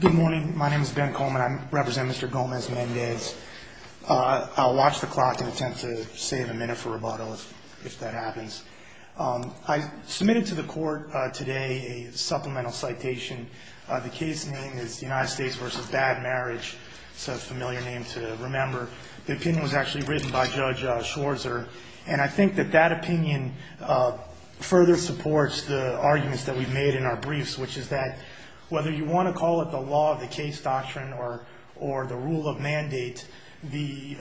Good morning. My name is Ben Coleman. I represent Mr. Gomez-Mendez. I'll watch the clock and attempt to save a minute for rebuttal, if that happens. I submitted to the court today a supplemental citation. The case name is United States v. Bad Marriage. It's a familiar name to remember. The opinion was actually written by Judge Schwarzer, and I think that that opinion further supports the arguments that we've made in our briefs, which is that whether you want to call it the law of the case doctrine or the rule of mandate, the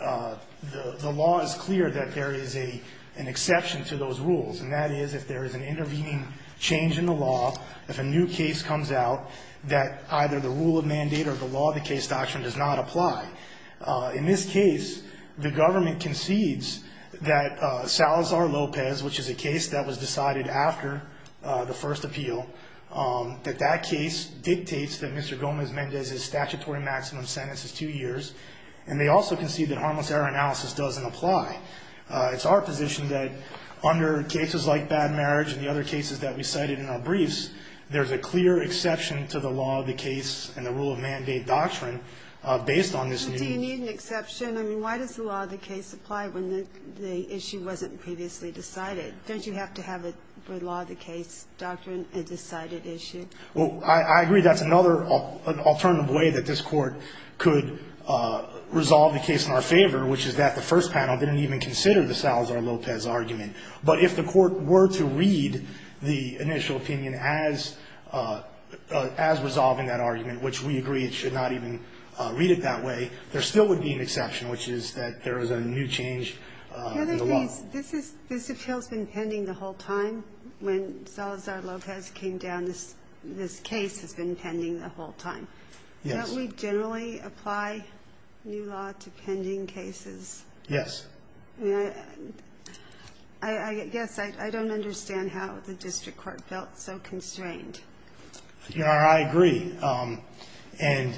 law is clear that there is an exception to those rules, and that is if there is an intervening change in the law, if a new case comes out, that either the rule of mandate or the law of the case doctrine does not apply. In this case, the government concedes that Salazar-Lopez, which is a case that was decided after the first appeal, that that case dictates that Mr. Gomez-Mendez's statutory maximum sentence is two years, and they also concede that harmless error analysis doesn't apply. It's our position that under cases like Bad Marriage and the other cases that we cited in our briefs, there's a clear exception to the law of the case and the rule of mandate doctrine based on this new rule. Ginsburg-McCabe. I agree that's another alternative way that this Court could resolve the case in our favor, which is that the first panel didn't even consider the Salazar-Lopez argument. But if the Court were to read the initial opinion as resolving that argument, which we agree it should not even read it that way, there still would be an exception, which is that there is a new change in the law. The other thing is this appeal has been pending the whole time. When Salazar-Lopez came down, this case has been pending the whole time. Yes. Don't we generally apply new law to pending cases? Yes. I guess I don't understand how the district court felt so constrained. I agree. And,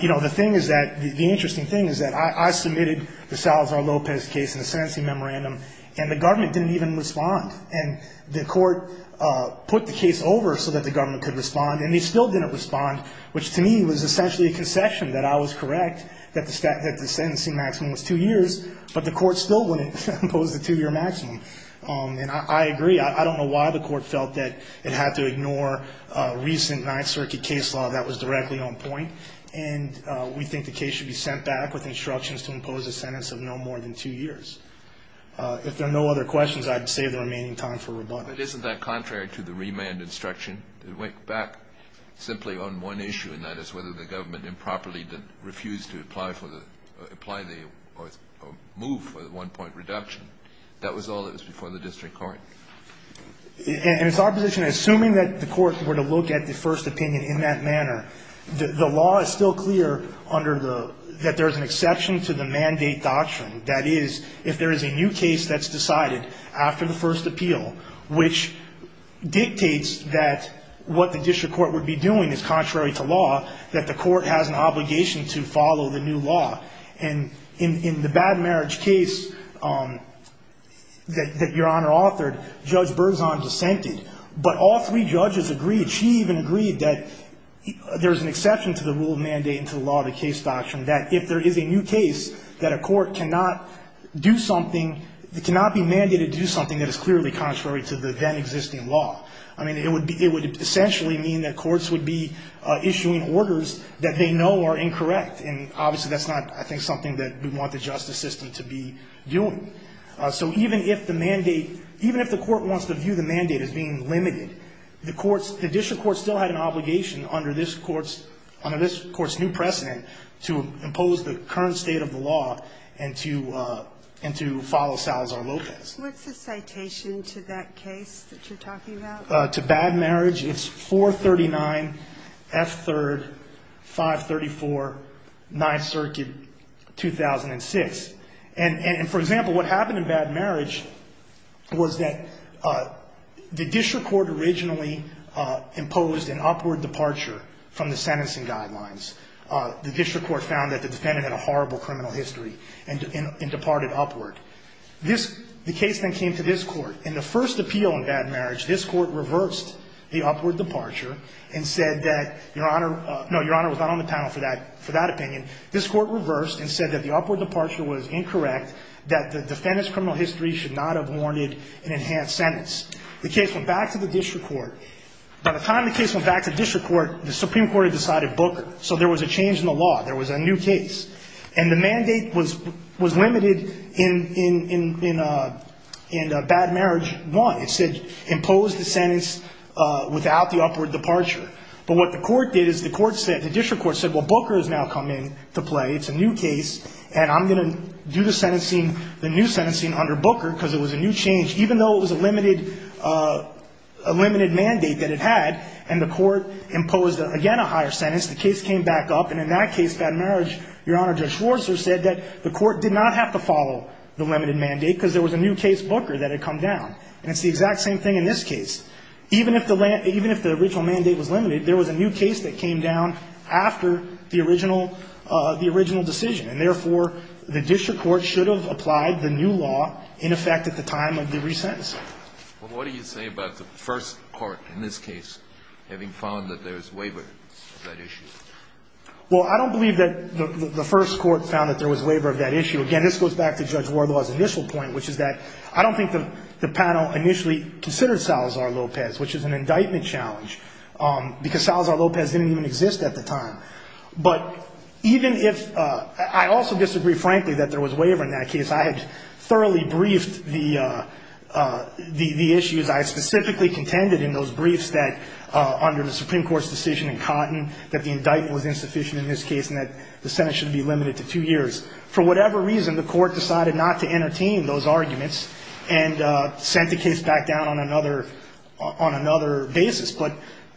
you know, the thing is that the interesting thing is that I submitted the Salazar-Lopez case in the sentencing memorandum, and the government didn't even respond. And the Court put the case over so that the government could respond, and they still didn't respond, which to me was essentially a concession that I was correct, that the sentencing maximum was two years, but the Court still wouldn't impose the two-year maximum. And I agree. I don't know why the Court felt that it had to ignore recent Ninth Circuit case law that was directly on point, and we think the case should be sent back with instructions to impose a sentence of no more than two years. If there are no other questions, I'd save the remaining time for rebuttal. But isn't that contrary to the remand instruction? It went back simply on one issue, and that is whether the government improperly refused to apply for the or move for the one-point reduction. That was all that was before the district court. And it's our position, assuming that the courts were to look at the first opinion in that manner, the law is still clear under the – that there is an exception to the mandate doctrine. That is, if there is a new case that's decided after the first appeal, which dictates that what the district court would be doing is contrary to law, that the court has an obligation to follow the new law. And in the bad marriage case that Your Honor authored, Judge Berzon dissented. But all three judges agreed. She even agreed that there's an exception to the rule of mandate and to the law of the case doctrine, that if there is a new case that a court cannot do something – it cannot be mandated to do something that is clearly contrary to the then-existing law. I mean, it would be – it would essentially mean that courts would be issuing orders that they know are incorrect. And obviously, that's not, I think, something that we want the justice system to be doing. So even if the mandate – even if the court wants to view the mandate as being limited, the courts – the district court still had an obligation under this court's – under this court's new precedent to impose the current state of the law and to – and to follow Salazar-Lopez. What's the citation to that case that you're talking about? To bad marriage, it's 439 F. 3rd, 534 9th Circuit, 2006. And for example, what happened in bad marriage was that the district court originally imposed an upward departure from the sentencing guidelines. The district court found that the defendant had a horrible criminal history and departed upward. This – the case then came to this court. In the first appeal in bad marriage, this court reversed the upward departure and said that Your Honor – no, Your Honor was not on the panel for that opinion. This court reversed and said that the upward departure was incorrect, that the defendant's criminal history should not have warranted an enhanced sentence. The case went back to the district court. By the time the case went back to district court, the Supreme Court had decided Booker. So there was a change in the law. There was a new case. And the mandate was limited in bad marriage one. It said impose the sentence without the upward departure. But what the court did is the court said – the district court said, well, Booker has now come in to play. It's a new case, and I'm going to do the sentencing – the new sentencing under Booker because it was a new change even though it was a limited mandate that it had. And the court imposed, again, a higher sentence. The case came back up. And in that case, bad marriage, Your Honor, Judge Schwarzer said that the court did not have to follow the limited mandate because there was a new case, Booker, that had come down. And it's the exact same thing in this case. Even if the – even if the original mandate was limited, there was a new case that came down after the original – the original decision. And therefore, the district court should have applied the new law in effect at the time of the resentencing. Well, what do you say about the first court in this case having found that there's waiver of that issue? Well, I don't believe that the first court found that there was waiver of that issue. Again, this goes back to Judge Wardlaw's initial point, which is that I don't think the panel initially considered Salazar-Lopez, which is an indictment challenge, because Salazar-Lopez didn't even exist at the time. But even if – I also disagree, frankly, that there was waiver in that case. I had thoroughly briefed the issues. I specifically contended in those briefs that under the Supreme Court's decision in Cotton that the indictment was insufficient in this case and that the sentence should be limited to two years. For whatever reason, the court decided not to entertain those arguments and sent the case back down on another – on another basis. But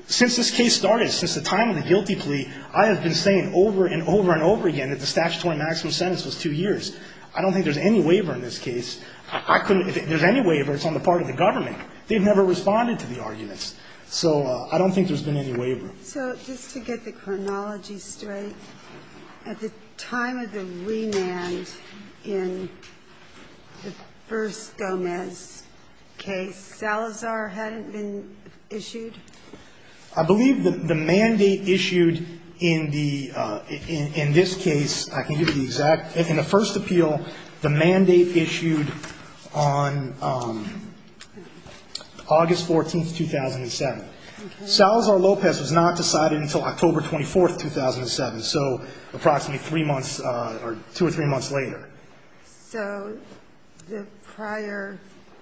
since this case started, since the time of the guilty plea, I have been saying over and over and over again that the statutory maximum sentence was two years. I don't think there's any waiver in this case. I couldn't – if there's any waiver, it's on the part of the government. They've never responded to the arguments. So I don't think there's been any waiver. So just to get the chronology straight, at the time of the remand in the first Gomez case, Salazar hadn't been issued? I believe that the mandate issued in the – in this case, I can give you the exact – in the first appeal, the mandate issued on August 14th, 2007. Okay. Salazar-Lopez was not decided until October 24th, 2007, so approximately three months or two or three months later. So the prior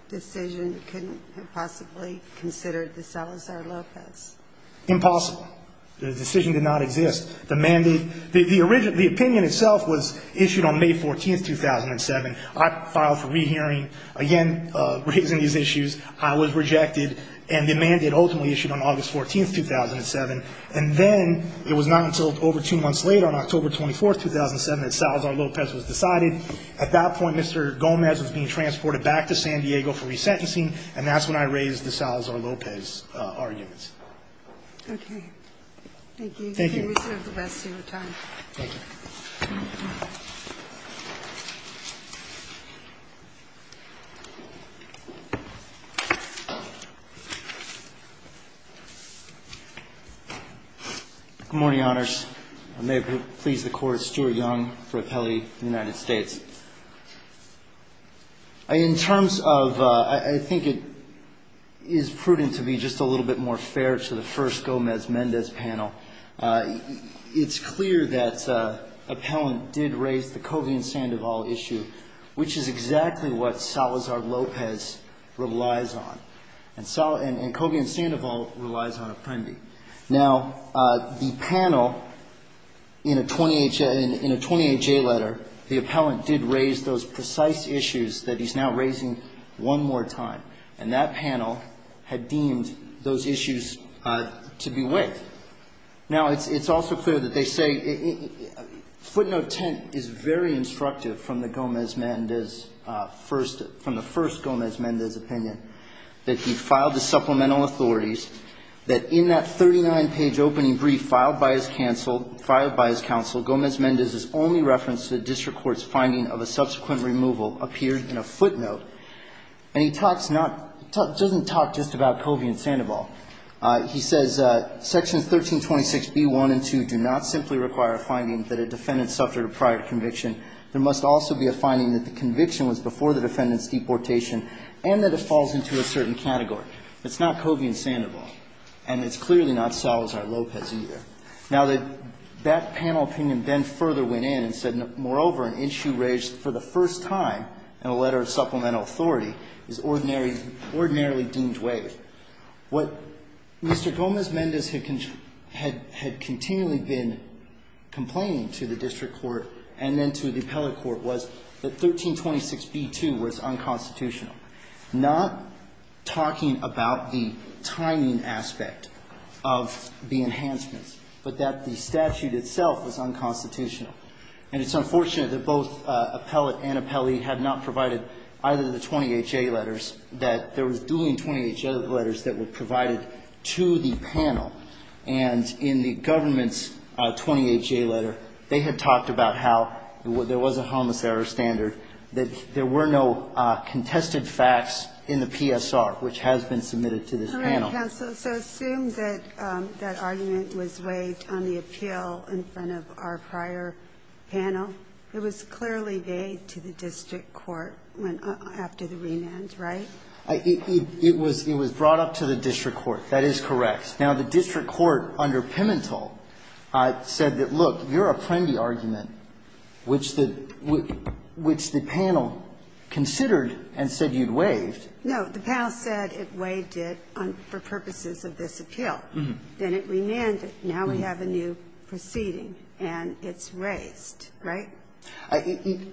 decision couldn't have possibly considered the Salazar-Lopez? Impossible. The decision did not exist. The mandate – the opinion itself was issued on May 14th, 2007. I filed for rehearing, again, raising these issues. I was rejected, and the mandate ultimately issued on August 14th, 2007. And then it was not until over two months later, on October 24th, 2007, that Salazar-Lopez was decided. At that point, Mr. Gomez was being transported back to San Diego for resentencing, and that's when I raised the Salazar-Lopez arguments. Okay. Thank you. Thank you. You may reserve the rest of your time. Thank you. Good morning, Honors. I may please the Court. Stuart Young for Appellate in the United States. In terms of – I think it is prudent to be just a little bit more fair to the first It's clear that Appellant did raise the Covey and Sandoval issue, which is exactly what Salazar-Lopez relies on. And Covey and Sandoval relies on Apprendi. Now, the panel in a 28-J letter, the Appellant did raise those precise issues that he's now raising one more time. And that panel had deemed those issues to be with. Now, it's also clear that they say – footnote 10 is very instructive from the Gomez-Mendez first – from the first Gomez-Mendez opinion, that he filed the supplemental authorities, that in that 39-page opening brief filed by his counsel, Gomez-Mendez's only reference to the district court's finding of a subsequent removal appeared in a footnote. And he talks not – he doesn't talk just about Covey and Sandoval. He says, Section 1326B1 and 2 do not simply require a finding that a defendant suffered a prior conviction. There must also be a finding that the conviction was before the defendant's deportation and that it falls into a certain category. It's not Covey and Sandoval. And it's clearly not Salazar-Lopez either. Now, that panel opinion then further went in and said, moreover, an issue raised for the first time in a letter of supplemental authority is ordinarily deemed waived. What Mr. Gomez-Mendez had continually been complaining to the district court and then to the appellate court was that 1326B2 was unconstitutional, not talking about the timing aspect of the enhancements, but that the statute itself was unconstitutional. And it's unfortunate that both appellate and appellee had not provided either of the 20HA letters, that there was dueling 20HA letters that were provided to the panel. And in the government's 20HA letter, they had talked about how there was a homicidal standard, that there were no contested facts in the PSR, which has been submitted to this panel. All right, counsel. So assume that that argument was waived on the appeal in front of our prior panel. It was clearly made to the district court after the remand, right? It was brought up to the district court. That is correct. Now, the district court under Pimentel said that, look, your Apprendi argument, which the panel considered and said you'd waived. No. The panel said it waived it for purposes of this appeal. Then it remanded. Now we have a new proceeding, and it's raised, right? It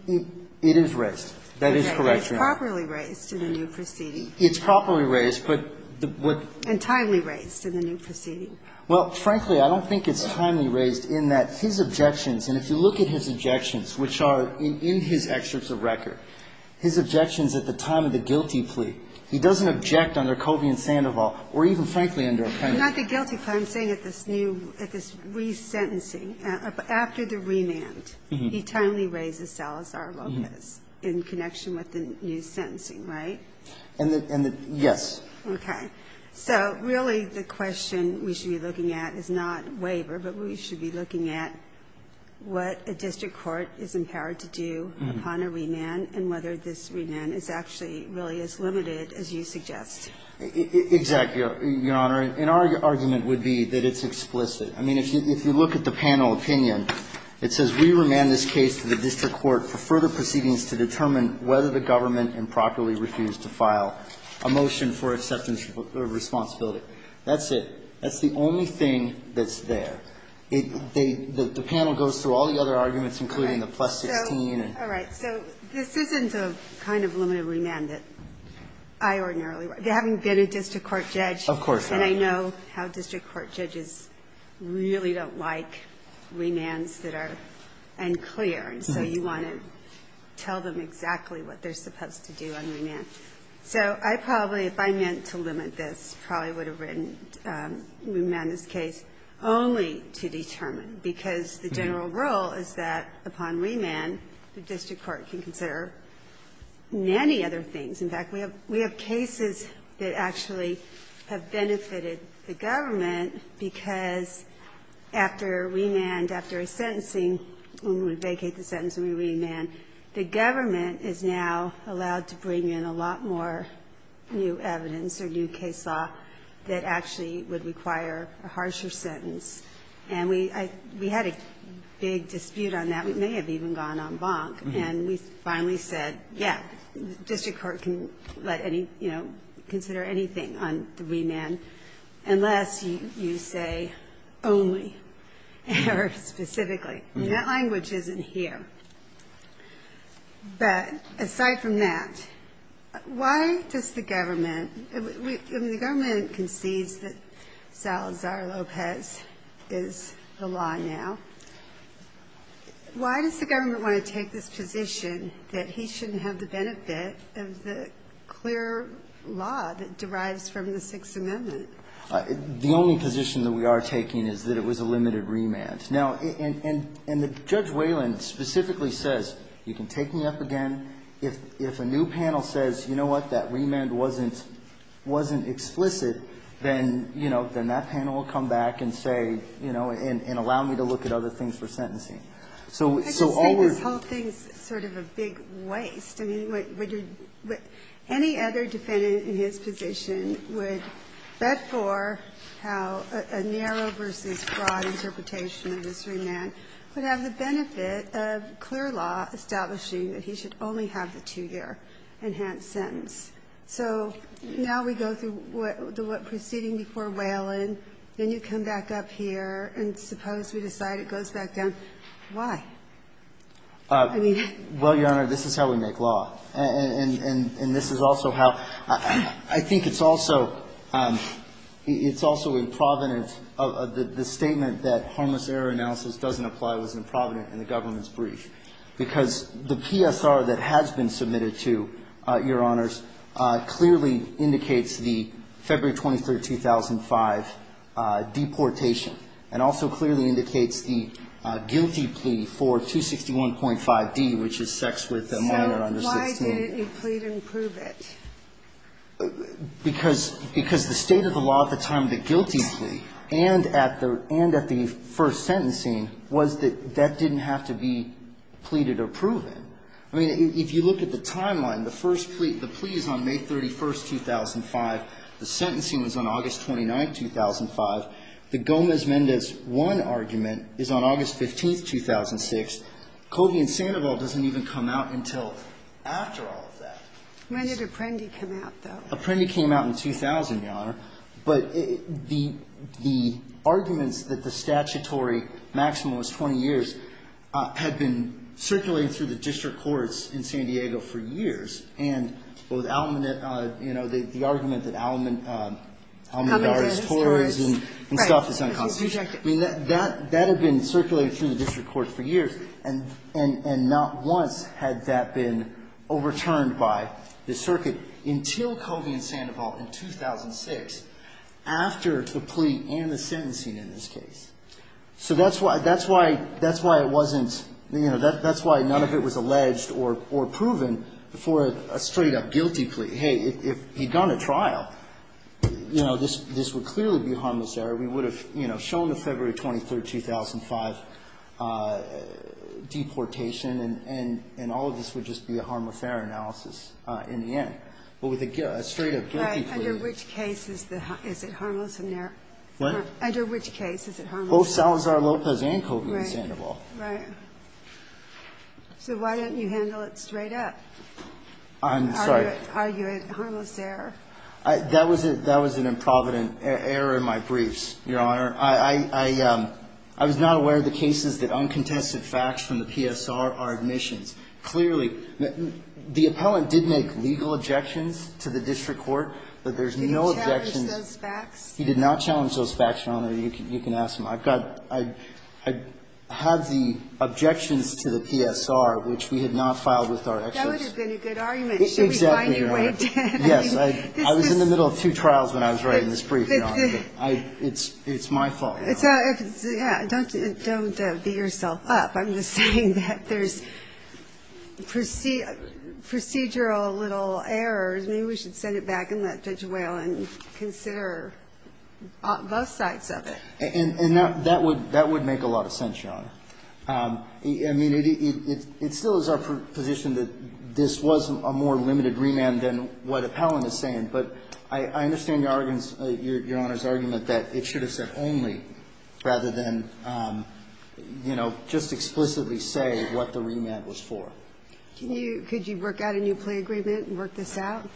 is raised. That is correct, Your Honor. Okay. It's properly raised in the new proceeding. It's properly raised, but the what? And timely raised in the new proceeding. Well, frankly, I don't think it's timely raised in that his objections, and if you look at his objections, which are in his excerpts of record, his objections at the time of the guilty plea. He doesn't object under Covey and Sandoval or even, frankly, under Apprendi. Not the guilty plea. So I'm saying at this new, at this resentencing, after the remand, he timely raises Salazar-Lopez in connection with the new sentencing, right? And the yes. Okay. So really the question we should be looking at is not waiver, but we should be looking at what a district court is empowered to do upon a remand and whether this remand Exactly, Your Honor. And our argument would be that it's explicit. I mean, if you look at the panel opinion, it says, We remand this case to the district court for further proceedings to determine whether the government improperly refused to file a motion for acceptance of responsibility. That's it. That's the only thing that's there. The panel goes through all the other arguments, including the plus 16. All right. So this isn't a kind of limited remand that I ordinarily would. They haven't been a district court judge. Of course not. And I know how district court judges really don't like remands that are unclear. So you want to tell them exactly what they're supposed to do on remand. So I probably, if I meant to limit this, probably would have written remand this case only to determine, because the general rule is that upon remand, the district court can consider many other things. In fact, we have cases that actually have benefited the government, because after remand, after a sentencing, when we vacate the sentence and we remand, the government is now allowed to bring in a lot more new evidence or new case law that actually would require a harsher sentence. And we had a big dispute on that. We may have even gone en banc. And we finally said, yeah, district court can let any, you know, consider anything on the remand unless you say only, or specifically. I mean, that language isn't here. But aside from that, why does the government, I mean, the government concedes that Salazar-Lopez is the law now. Why does the government want to take this position that he shouldn't have the benefit of the clear law that derives from the Sixth Amendment? The only position that we are taking is that it was a limited remand. Now, and Judge Wayland specifically says, you can take me up again. If a new panel says, you know what, that remand wasn't explicit, then, you know, then that panel will come back and say, you know, and allow me to look at other things for sentencing. Ginsburg-McGill. I just think this whole thing is sort of a big waste. I mean, would any other defendant in his position would bet for how a narrow versus broad interpretation of this remand would have the benefit of clear law establishing that he should only have the two-year enhanced sentence. So now we go through what proceeding before Wayland, then you come back up here, and suppose we decide it goes back down. Why? I mean. Well, Your Honor, this is how we make law. And this is also how – I think it's also, it's also in Providence, the statement that harmless error analysis doesn't apply was in Providence in the government's statement, I think, to your honors, clearly indicates the February 23, 2005 deportation and also clearly indicates the guilty plea for 261.5d, which is sex with a minor under 16. So why didn't he plead and prove it? Because the state of the law at the time of the guilty plea and at the first sentencing was that that didn't have to be pleaded or proven. I mean, if you look at the timeline, the first plea, the plea is on May 31, 2005. The sentencing was on August 29, 2005. The Gomez-Mendez 1 argument is on August 15, 2006. Cody and Sandoval doesn't even come out until after all of that. When did Apprendi come out, though? Apprendi came out in 2000, Your Honor. But the arguments that the statutory maximum was 20 years had been circulating through the district courts in San Diego for years. And with Almanet, you know, the argument that Almanet is tolerant and stuff is unconstitutional. I mean, that had been circulating through the district courts for years, and not once had that been overturned by the circuit until Cody and Sandoval in 2006, after the plea and the sentencing in this case. So that's why it wasn't, you know, that's why none of it was alleged or proven before a straight-up guilty plea. Hey, if he'd gone to trial, you know, this would clearly be a harmless error. We would have, you know, shown the February 23, 2005 deportation, and all of this would just be a harmless error analysis in the end. But with a straight-up guilty plea. Right, under which case is it harmless error? What? Under which case is it harmless error? Both Salazar-Lopez and Cody and Sandoval. Right, right. So why didn't you handle it straight up? I'm sorry. Argue it harmless error. That was an improvident error in my briefs, Your Honor. I was not aware of the cases that uncontested facts from the PSR are admissions. Clearly, the appellant did make legal objections to the district court, but there's no objections. Did he challenge those facts? He did not challenge those facts, Your Honor. You can ask him. I've got the objections to the PSR, which we had not filed with our experts. That would have been a good argument. Exactly, Your Honor. I was in the middle of two trials when I was writing this brief, Your Honor. It's my fault, Your Honor. Don't beat yourself up. I'm just saying that there's procedural little errors. Maybe we should send it back and let Judge Whalen consider both sides of it. And that would make a lot of sense, Your Honor. I mean, it still is our position that this was a more limited remand than what appellant is saying. But I understand Your Honor's argument that it should have said only, rather than, you know, just explicitly say what the remand was for. Could you work out a new play agreement and work this out?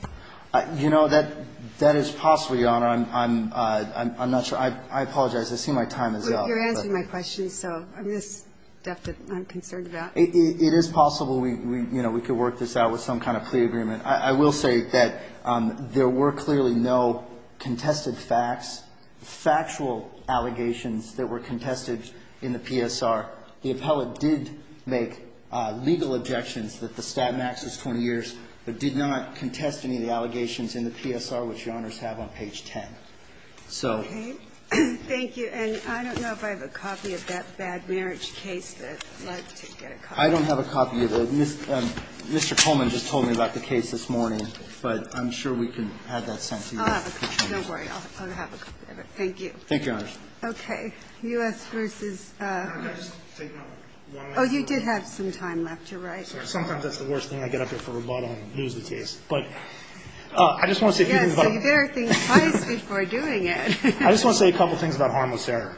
You know, that is possible, Your Honor. I'm not sure. I apologize. I see my time is up. You're answering my question, so I'm concerned about it. It is possible we could work this out with some kind of play agreement. I will say that there were clearly no contested facts, factual allegations that were contested in the PSR. The appellant did make legal objections that the stat max is 20 years, but did not contest any of the allegations in the PSR, which Your Honors have on page 10. So I'm concerned about that. Okay. Thank you. And I don't know if I have a copy of that bad marriage case, but I'd like to get a copy. I don't have a copy of it. Mr. Coleman just told me about the case this morning, but I'm sure we can have that sent to you. I'll have a copy. Don't worry. I'll have a copy of it. Thank you. Thank you, Your Honors. Okay. U.S. v. Oh, you did have some time left. You're right. Sometimes that's the worst thing. I get up here for a rebuttal and lose the case. But I just want to see if you can rebuttal. Well, you better think twice before doing it. I just want to say a couple things about harmless error.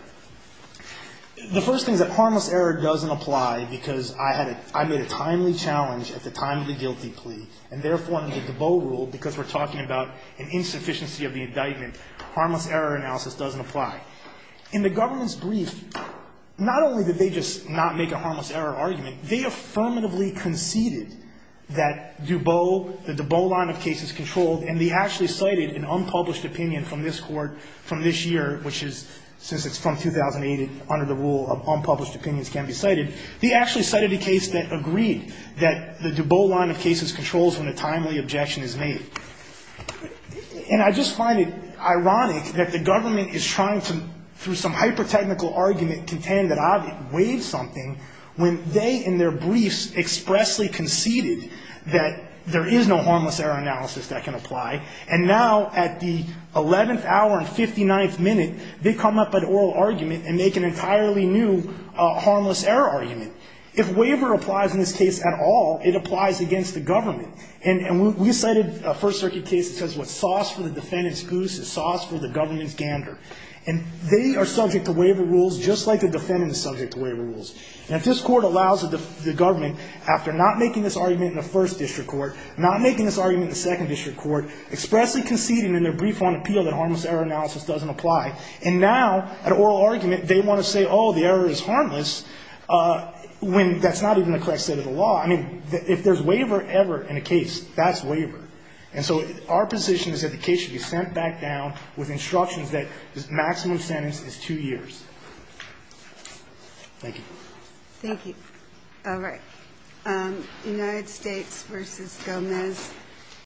The first thing is that harmless error doesn't apply because I had a – I made a timely challenge at the time of the guilty plea, and therefore, under the Dubot rule, because we're talking about an insufficiency of the indictment, harmless error analysis doesn't apply. In the government's brief, not only did they just not make a harmless error argument, they affirmatively conceded that Dubot – that the Dubot line of cases controlled – and they actually cited an unpublished opinion from this court from this year, which is – since it's from 2008 and under the rule of unpublished opinions can't be cited. They actually cited a case that agreed that the Dubot line of cases controls when a timely objection is made. And I just find it ironic that the government is trying to, through some hypertechnical argument, contend that I've waived something when they, in their briefs, expressly conceded that there is no harmless error analysis that can apply. And now, at the 11th hour and 59th minute, they come up with an oral argument and make an entirely new harmless error argument. If waiver applies in this case at all, it applies against the government. And we cited a First Circuit case that says what's sauce for the defendant's goose is sauce for the government's gander. And they are subject to waiver rules just like the defendant is subject to waiver rules. And if this court allows the government, after not making this argument in the first district court, not making this argument in the second district court, expressly conceding in their brief on appeal that harmless error analysis doesn't apply, and now, at an oral argument, they want to say, oh, the error is harmless, when that's not even the correct set of the law. I mean, if there's waiver ever in a case, that's waiver. And so our position is that the case should be sent back down with instructions that the maximum sentence is two years. Thank you. Thank you. All right. United States v. Gomez.